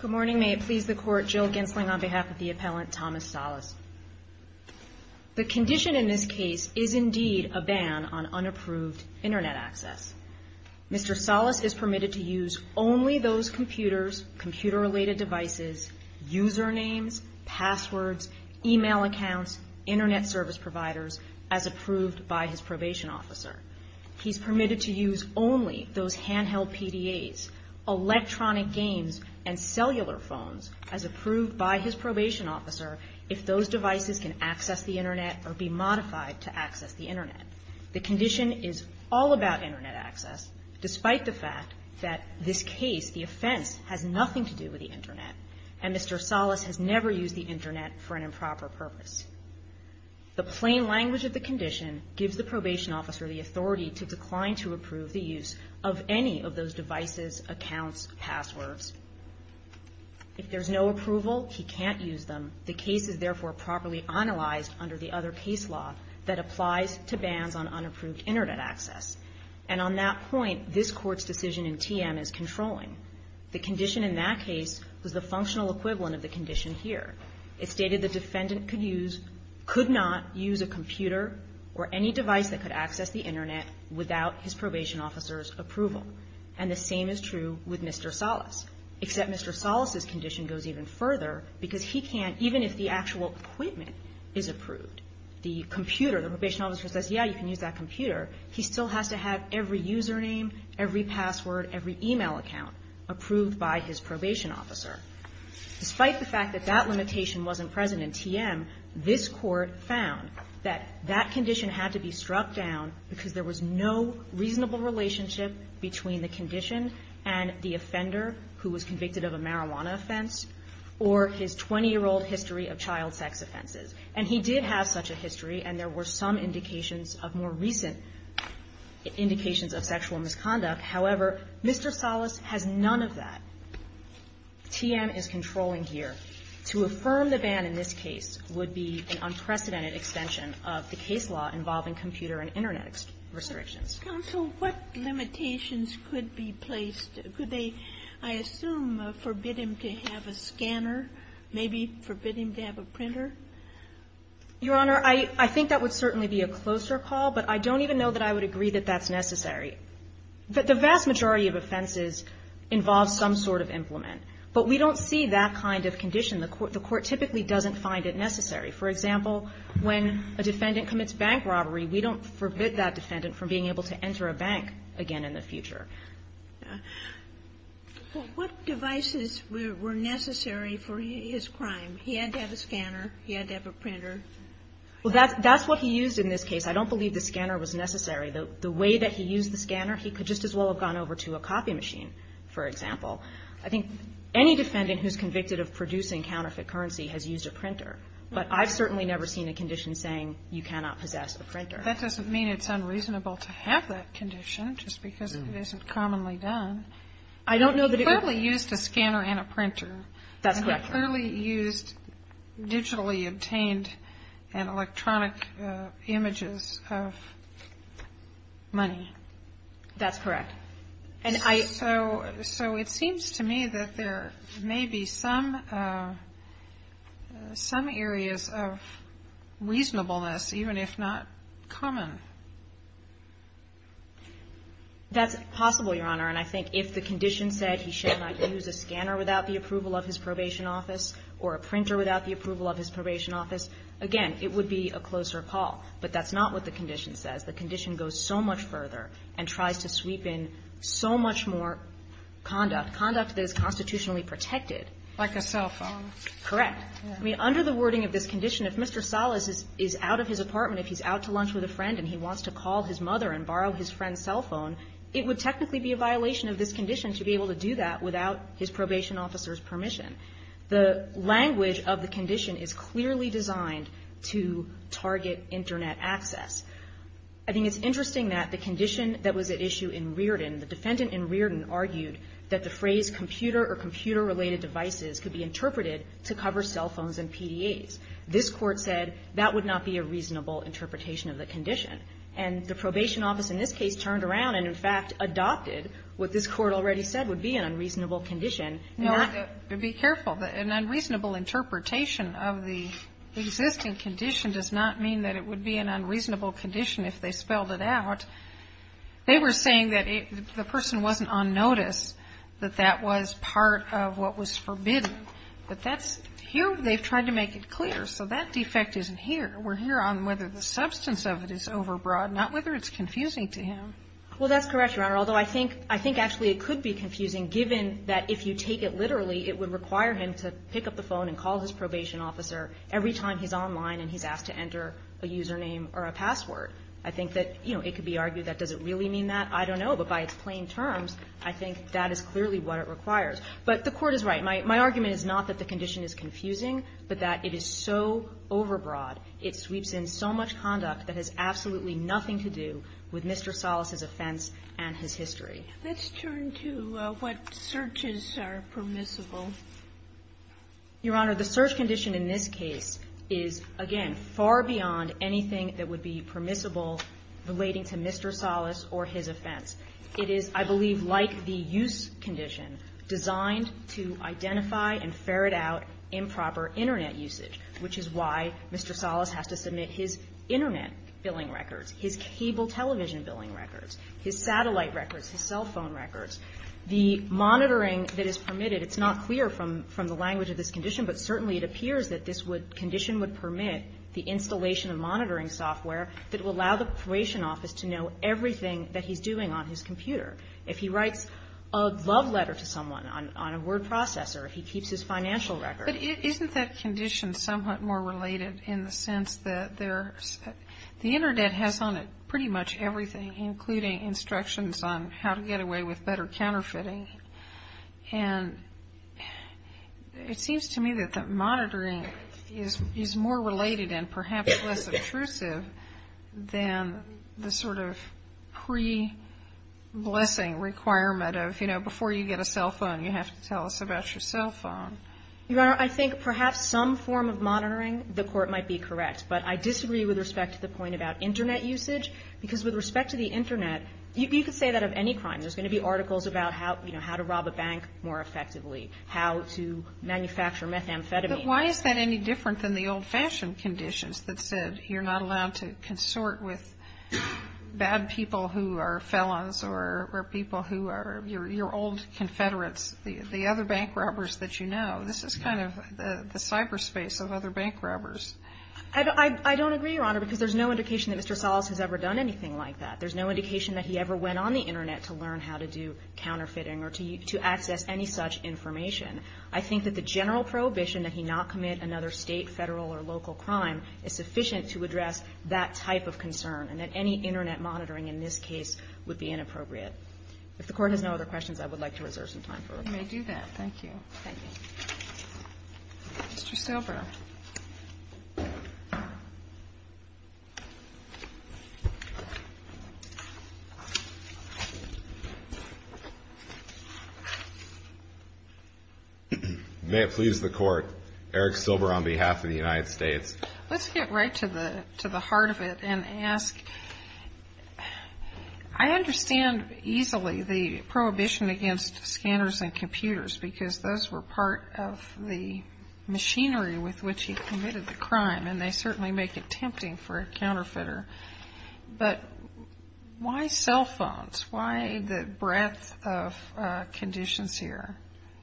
Good morning. May it please the Court, Jill Gensling on behalf of the Appellant Thomas Salas. The condition in this case is indeed a ban on unapproved Internet access. Mr. Salas is permitted to use only those computers, computer-related devices, usernames, passwords, e-mail accounts, Internet service providers as approved by his probation officer. He's electronic games and cellular phones as approved by his probation officer if those devices can access the Internet or be modified to access the Internet. The condition is all about Internet access, despite the fact that this case, the offense, has nothing to do with the Internet, and Mr. Salas has never used the Internet for an improper purpose. The plain language of the condition gives the probation officer the authority to decline to approve the use of any of those devices, accounts, passwords. If there's no approval, he can't use them. The case is therefore properly analyzed under the other case law that applies to bans on unapproved Internet access. And on that point, this Court's decision in TM is controlling. The condition in that case was the functional equivalent of the condition here. It stated the defendant could not use a computer or any device that could access the Internet without his probation officer's approval. And the same is true with Mr. Salas, except Mr. Salas's condition goes even further because he can't, even if the actual equipment is approved, the computer, the probation officer says, yes, you can use that computer, he still has to have every username, every password, every e-mail account approved by his probation officer. Despite the fact that that limitation wasn't present in TM, this Court found that that because there was no reasonable relationship between the condition and the offender who was convicted of a marijuana offense or his 20-year-old history of child sex offenses. And he did have such a history, and there were some indications of more recent indications of sexual misconduct. However, Mr. Salas has none of that. TM is controlling here. To affirm the ban in this case would be an unprecedented extension of the case law involving computer and Internet restrictions. But, counsel, what limitations could be placed? Could they, I assume, forbid him to have a scanner, maybe forbid him to have a printer? Your Honor, I think that would certainly be a closer call, but I don't even know that I would agree that that's necessary. The vast majority of offenses involve some sort of implement. But we don't see that kind of condition. The Court typically doesn't find it necessary. For example, when a defendant commits bank robbery, we don't forbid that defendant from being able to enter a bank again in the future. Well, what devices were necessary for his crime? He had to have a scanner. He had to have a printer. Well, that's what he used in this case. I don't believe the scanner was necessary. The way that he used the scanner, he could just as well have gone over to a copy machine, for example. I think any defendant who's convicted of producing counterfeit currency has used a printer. But I've certainly never seen a condition saying you cannot possess a printer. That doesn't mean it's unreasonable to have that condition, just because it isn't commonly done. I don't know that it would be. He clearly used a scanner and a printer. That's correct. And he clearly used digitally obtained and electronic images of money. That's correct. And I ---- So it seems to me that there may be some areas of reasonableness, even if not common. That's possible, Your Honor. And I think if the condition said he should not use a scanner without the approval of his probation office or a printer without the approval of his probation office, again, it would be a closer call. But that's not what the condition says. The condition goes so much further and tries to sweep in so much more conduct, conduct that is constitutionally protected. Like a cell phone. Correct. I mean, under the wording of this condition, if Mr. Salas is out of his apartment, if he's out to lunch with a friend and he wants to call his mother and borrow his friend's cell phone, it would technically be a violation of this condition to be able to do that without his probation officer's permission. The language of the condition is clearly designed to target Internet access. I think it's interesting that the condition that was at issue in Reardon, the defendant in Reardon argued that the phrase computer or computer-related devices could be interpreted to cover cell phones and PDAs. This Court said that would not be a reasonable interpretation of the condition. And the probation office in this case turned around and, in fact, adopted what this Court already said would be an unreasonable condition. No, be careful. An unreasonable interpretation of the existing condition does not mean that it would be an unreasonable condition if they spelled it out. They were saying that the person wasn't on notice, that that was part of what was forbidden. But that's here. They've tried to make it clear. So that defect isn't here. We're here on whether the substance of it is overbroad, not whether it's confusing to him. Well, that's correct, Your Honor, although I think actually it could be confusing given that if you take it literally, it would require him to pick up the phone and call his probation officer every time he's online and he's asked to enter a username or a password. I think that, you know, it could be argued that does it really mean that? I don't know, but by its plain terms, I think that is clearly what it requires. But the Court is right. My argument is not that the condition is confusing, but that it is so overbroad. It sweeps in so much conduct that has absolutely nothing to do with Mr. Salas's offense and his history. Let's turn to what searches are permissible. Your Honor, the search condition in this case is, again, far beyond anything that would be permissible relating to Mr. Salas or his offense. It is, I believe, like the use condition, designed to identify and ferret out improper Internet usage, which is why Mr. Salas has to submit his Internet billing records, his cable television billing records, his satellite records, his cell phone records. The monitoring that is permitted, it's not clear from the language of this condition, but certainly it appears that this condition would permit the installation of monitoring software that will allow the probation office to know everything that he's doing on his computer. If he writes a love letter to someone on a word processor, if he keeps his financial records. But isn't that condition somewhat more related in the sense that the Internet has on it pretty much everything, including instructions on how to get away with better counterfeiting? And it seems to me that the monitoring is more related and perhaps less intrusive than the sort of pre-blessing requirement of, you know, before you get a cell phone, you have to tell us about your cell phone. You know, I think perhaps some form of monitoring, the Court might be correct. But I disagree with respect to the point about Internet usage, because with respect to the Internet, you could say that of any crime. There's going to be articles about how, you know, how to rob a bank more effectively, how to manufacture methamphetamine. But why is that any different than the old-fashioned conditions that said you're not allowed to consort with bad people who are felons or people who are your old confederates, the other bank robbers that you know? This is kind of the cyberspace of other bank robbers. I don't agree, Your Honor, because there's no indication that Mr. Salas has ever done anything like that. There's no indication that he ever went on the Internet to learn how to do counterfeiting or to access any such information. I think that the general prohibition that he not commit another State, Federal or local crime is sufficient to address that type of concern, and that any Internet monitoring in this case would be inappropriate. If the Court has no other questions, I would like to reserve some time for them. You may do that. Thank you. Thank you. Mr. Silber. May it please the Court. Eric Silber on behalf of the United States. Let's get right to the heart of it and ask. I understand easily the prohibition against scanners and computers, because those were part of the machinery with which he committed the crime, and they certainly make it tempting for a counterfeiter. But why cell phones? Why the breadth of conditions here?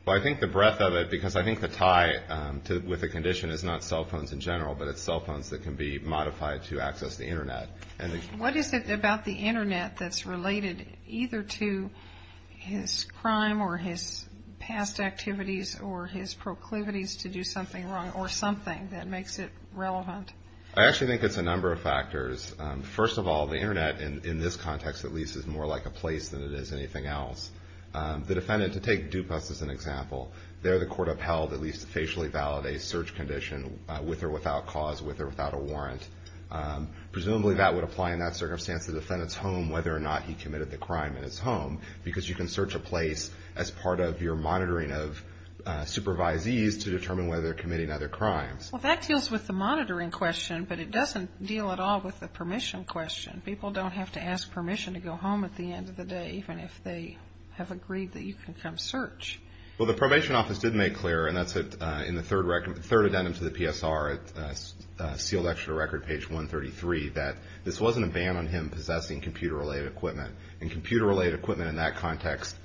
Well, I think the breadth of it, because I think the tie with the condition is not just cell phones in general, but it's cell phones that can be modified to access the Internet. What is it about the Internet that's related either to his crime or his past activities or his proclivities to do something wrong or something that makes it relevant? I actually think it's a number of factors. First of all, the Internet, in this context at least, is more like a place than it is anything else. The defendant, to take Dupas as an example, there the Court upheld at least that he could facially validate a search condition with or without cause, with or without a warrant. Presumably that would apply in that circumstance to the defendant's home, whether or not he committed the crime in his home, because you can search a place as part of your monitoring of supervisees to determine whether they're committing other crimes. Well, that deals with the monitoring question, but it doesn't deal at all with the permission question. People don't have to ask permission to go home at the end of the day, even if they have agreed that you can come search. Well, the Probation Office did make clear, and that's in the third addendum to the PSR, sealed extra record page 133, that this wasn't a ban on him possessing computer-related equipment. And computer-related equipment in that context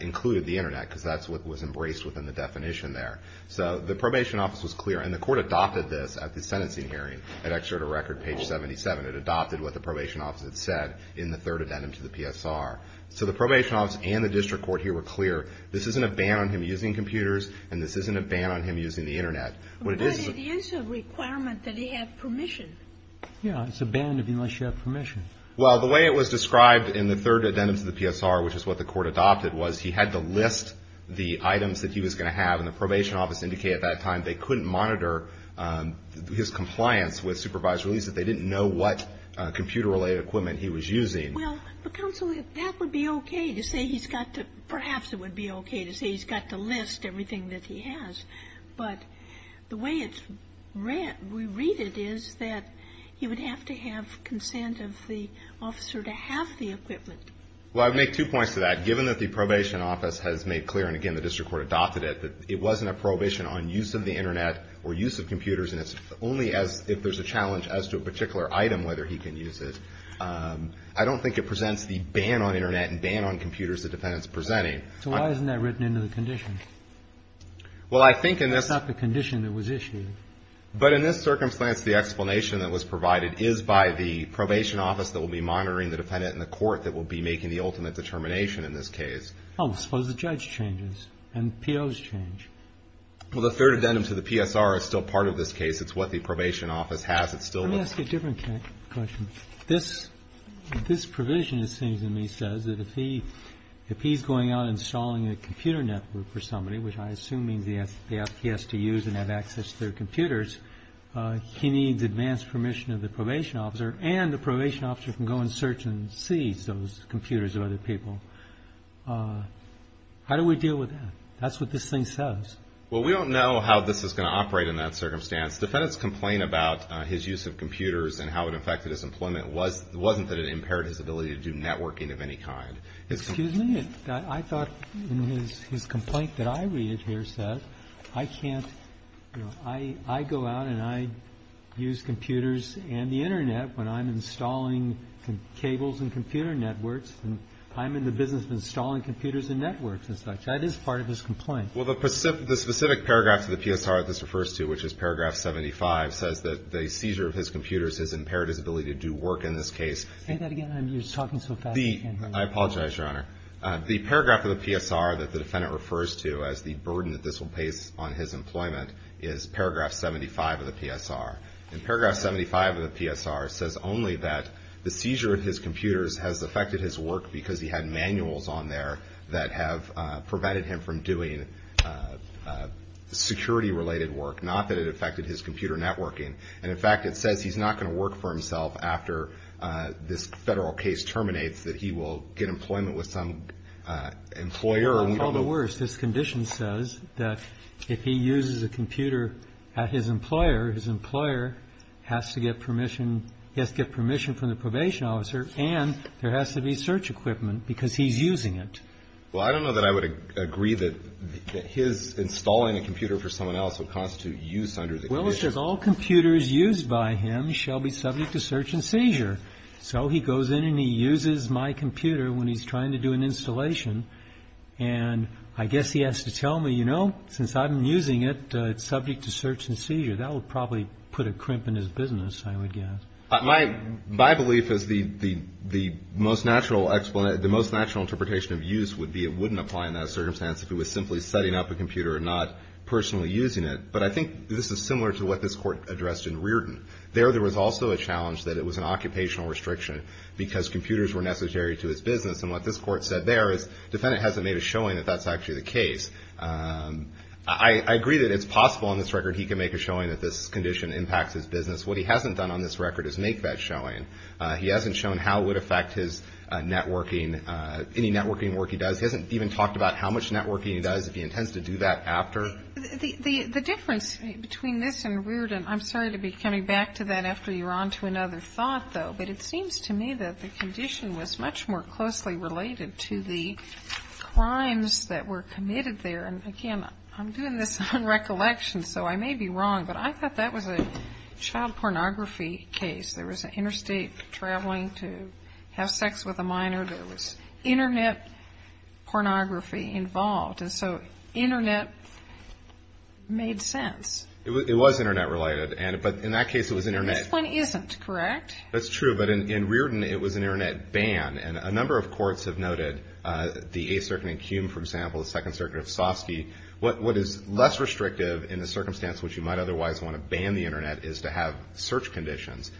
included the Internet, because that's what was embraced within the definition there. So the Probation Office was clear, and the Court adopted this at the sentencing hearing at extra to record page 77. It adopted what the Probation Office had said in the third addendum to the PSR. So the Probation Office and the District Court here were clear, this isn't a ban on him using computers, and this isn't a ban on him using the Internet. But it is a requirement that he have permission. Yeah. It's a ban unless you have permission. Well, the way it was described in the third addendum to the PSR, which is what the Court adopted, was he had to list the items that he was going to have. And the Probation Office indicated at that time they couldn't monitor his compliance with supervised release if they didn't know what computer-related equipment he was using. Well, counsel, that would be okay to say he's got to – perhaps it would be okay to say he's got to list everything that he has. But the way it's read – we read it is that he would have to have consent of the officer to have the equipment. Well, I'd make two points to that. Given that the Probation Office has made clear, and again, the District Court adopted it, that it wasn't a probation on use of the Internet or use of computers, and it's only as – if there's a challenge as to a particular item, whether he can use it. I don't think it presents the ban on Internet and ban on computers the defendant is presenting. So why isn't that written into the condition? Well, I think in this – It's not the condition that was issued. But in this circumstance, the explanation that was provided is by the Probation Office that will be monitoring the defendant in the court that will be making the ultimate determination in this case. Oh, suppose the judge changes and POs change. Well, the third addendum to the PSR is still part of this case. It's what the Probation Office has. It still – Let me ask you a different question. This provision, it seems to me, says that if he's going out installing a computer network for somebody, which I assume means he has to use and have access to their computers, he needs advance permission of the Probation Officer and the Probation Officer can go and search and seize those computers of other people. How do we deal with that? That's what this thing says. Well, we don't know how this is going to operate in that circumstance. The defendant's complaint about his use of computers and how it affected his employment wasn't that it impaired his ability to do networking of any kind. Excuse me? I thought in his complaint that I read it here says, I can't – I go out and I use computers and the Internet when I'm installing cables and computer networks. I'm in the business of installing computers and networks and such. That is part of his complaint. Well, the specific paragraph to the PSR that this refers to, which is paragraph 75, says that the seizure of his computers has impaired his ability to do work in this case. Say that again. You're talking so fast I can't hear you. I apologize, Your Honor. The paragraph of the PSR that the defendant refers to as the burden that this will place on his employment is paragraph 75 of the PSR. And paragraph 75 of the PSR says only that the seizure of his computers has affected his work because he had manuals on there that have prevented him from doing security-related work, not that it affected his computer networking. And, in fact, it says he's not going to work for himself after this federal case terminates, that he will get employment with some employer. I'll call it worse. This condition says that if he uses a computer at his employer, his employer has to get permission – he has to get permission from the probation officer and there has to be search equipment because he's using it. Well, I don't know that I would agree that his installing a computer for someone else would constitute use under the condition. Well, it says all computers used by him shall be subject to search and seizure. So he goes in and he uses my computer when he's trying to do an installation. And I guess he has to tell me, you know, since I'm using it, it's subject to search and seizure. That would probably put a crimp in his business, I would guess. My belief is the most natural interpretation of use would be it wouldn't apply in that circumstance if he was simply setting up a computer and not personally using it. But I think this is similar to what this Court addressed in Reardon. There, there was also a challenge that it was an occupational restriction because computers were necessary to his business. And what this Court said there is the defendant hasn't made a showing that that's actually the case. I agree that it's possible on this record he can make a showing that this condition impacts his business. What he hasn't done on this record is make that showing. He hasn't shown how it would affect his networking, any networking work he does. He hasn't even talked about how much networking he does, if he intends to do that after. The difference between this and Reardon, I'm sorry to be coming back to that after you're on to another thought, though. But it seems to me that the condition was much more closely related to the crimes that were committed there. And, again, I'm doing this on recollection, so I may be wrong. But I thought that was a child pornography case. There was interstate traveling to have sex with a minor. There was Internet pornography involved. And so Internet made sense. It was Internet related. But in that case, it was Internet. This one isn't, correct? That's true. But in Reardon, it was an Internet ban. And a number of courts have noted, the Eighth Circuit in Cume, for example, the Second Circuit of Soski, what is less restrictive in the circumstance which you might otherwise want to ban the Internet is to have search conditions.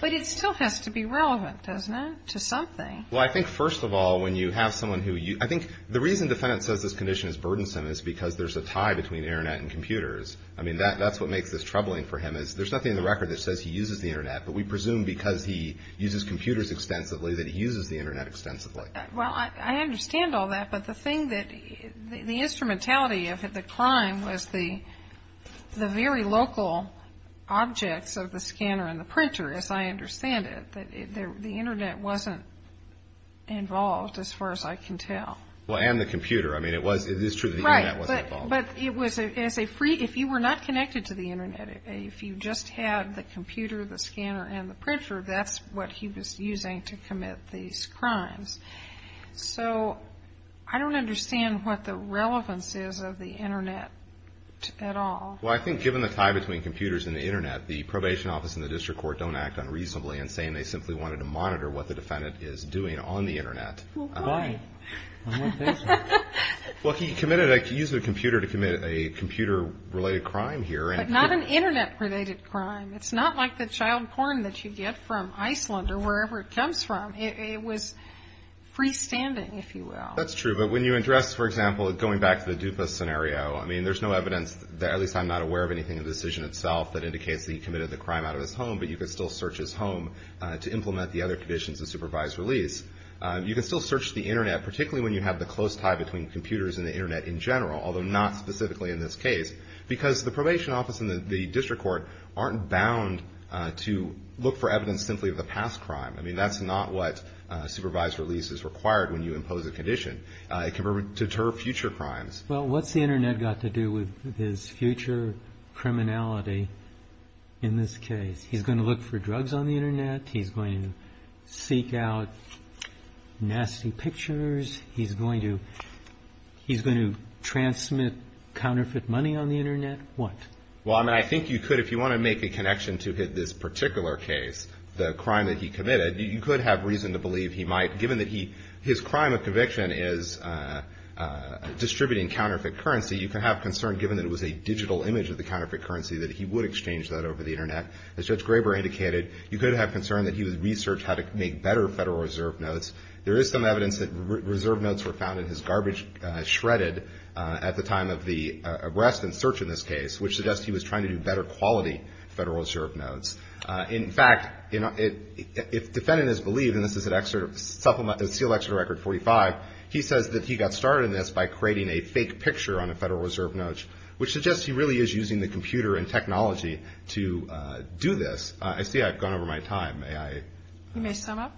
But it still has to be relevant, doesn't it, to something? Well, I think, first of all, when you have someone who you – I think the reason the defendant says this condition is burdensome is because there's a tie between Internet and computers. I mean, that's what makes this troubling for him is there's nothing in the record that says he uses the Internet. But we presume because he uses computers extensively that he uses the Internet extensively. Well, I understand all that. But the thing that – the instrumentality of the crime was the very local objects of the scanner and the printer, as I understand it. The Internet wasn't involved, as far as I can tell. Well, and the computer. I mean, it was – it is true that the Internet wasn't involved. Right. But it was – if you were not connected to the Internet, if you just had the computer, the scanner, and the printer, that's what he was using to commit these crimes. So I don't understand what the relevance is of the Internet at all. Well, I think given the tie between computers and the Internet, the probation office and the district court don't act unreasonably in saying they simply wanted to monitor what the defendant is doing on the Internet. Well, why? Why? Well, he committed – he used a computer to commit a computer-related crime here. But not an Internet-related crime. It's not like the child porn that you get from Iceland or wherever it comes from. It was freestanding, if you will. That's true. But when you address, for example, going back to the DUPA scenario, I mean, there's no evidence – at least I'm not aware of anything in the decision itself that indicates that he committed the crime out of his home, but you can still search his home to implement the other conditions of supervised release. You can still search the Internet, particularly when you have the close tie between computers and the Internet in general, although not specifically in this case, because the probation office and the district court aren't bound to look for evidence simply of the past crime. I mean, that's not what supervised release is required when you impose a condition. It can deter future crimes. Well, what's the Internet got to do with his future criminality in this case? He's going to look for drugs on the Internet? He's going to seek out nasty pictures? He's going to transmit counterfeit money on the Internet? What? Well, I mean, I think you could, if you want to make a connection to this particular case, the crime that he committed, you could have reason to believe he might, given that his crime of conviction is distributing counterfeit currency, you could have concern, given that it was a digital image of the counterfeit currency, that he would exchange that over the Internet. As Judge Graber indicated, you could have concern that he would research how to make better Federal Reserve notes. There is some evidence that Reserve notes were found in his garbage shredded at the time of the arrest and search in this case, which suggests he was trying to do better quality Federal Reserve notes. In fact, if defendant is believed, and this is a sealed excerpt of Record 45, he says that he got started in this by creating a fake picture on a Federal Reserve note, which suggests he really is using the computer and technology to do this. I see I've gone over my time. May I? You may sum up.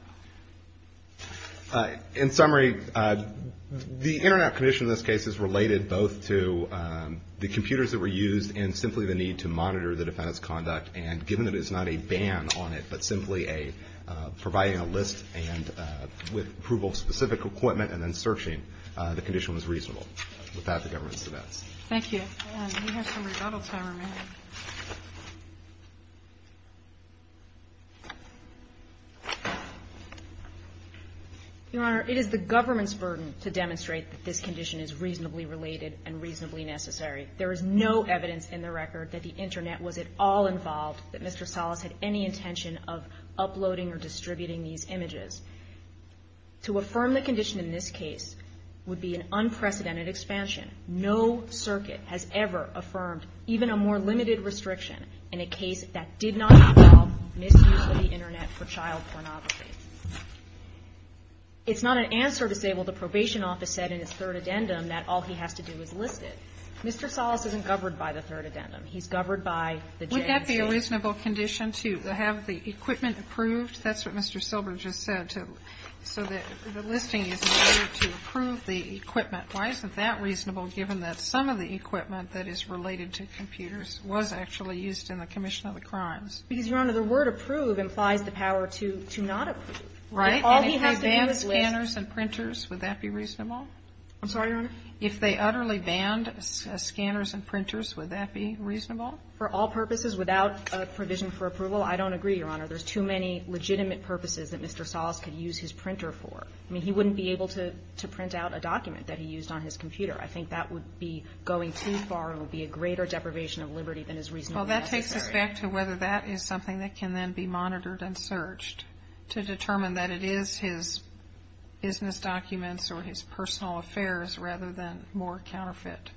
In summary, the Internet condition in this case is related both to the conduct and, given that it's not a ban on it, but simply a providing a list and with approval of specific equipment and then searching, the condition was reasonable. With that, the government is at its best. Thank you. We have some rebuttal time remaining. Your Honor, it is the government's burden to demonstrate that this condition is reasonably related and reasonably necessary. There is no evidence in the record that the Internet was at all involved, that Mr. Salas had any intention of uploading or distributing these images. To affirm the condition in this case would be an unprecedented expansion. No circuit has ever affirmed even a more limited restriction in a case that did not involve misuse of the Internet for child pornography. It's not an answer to say, well, the probation office said in its third addendum that all he has to do is list it. Mr. Salas isn't governed by the third addendum. He's governed by the JMC. Would that be a reasonable condition to have the equipment approved? That's what Mr. Silber just said, to so that the listing is in order to approve the equipment. Why isn't that reasonable, given that some of the equipment that is related to computers was actually used in the commission of the crimes? Because, Your Honor, the word approve implies the power to not approve. Right. All he has to do is list. And if they banned scanners and printers, would that be reasonable? I'm sorry, Your Honor. If they utterly banned scanners and printers, would that be reasonable? For all purposes, without a provision for approval, I don't agree, Your Honor. There's too many legitimate purposes that Mr. Salas could use his printer for. I mean, he wouldn't be able to print out a document that he used on his computer. I think that would be going too far and would be a greater deprivation of liberty than is reasonably necessary. Well, that takes us back to whether that is something that can then be monitored and searched to determine that it is his business documents or his personal affairs rather than more counterfeit.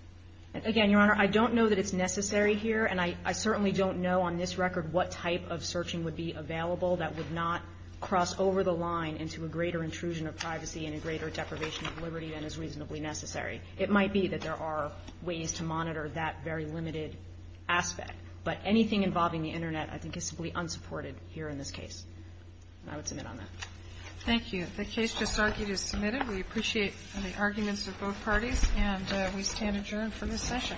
Again, Your Honor, I don't know that it's necessary here. And I certainly don't know on this record what type of searching would be available that would not cross over the line into a greater intrusion of privacy and a greater deprivation of liberty than is reasonably necessary. It might be that there are ways to monitor that very limited aspect. But anything involving the Internet, I think, is simply unsupported here in this case. And I would submit on that. Thank you. The case just argued is submitted. We appreciate the arguments of both parties, and we stand adjourned for this session.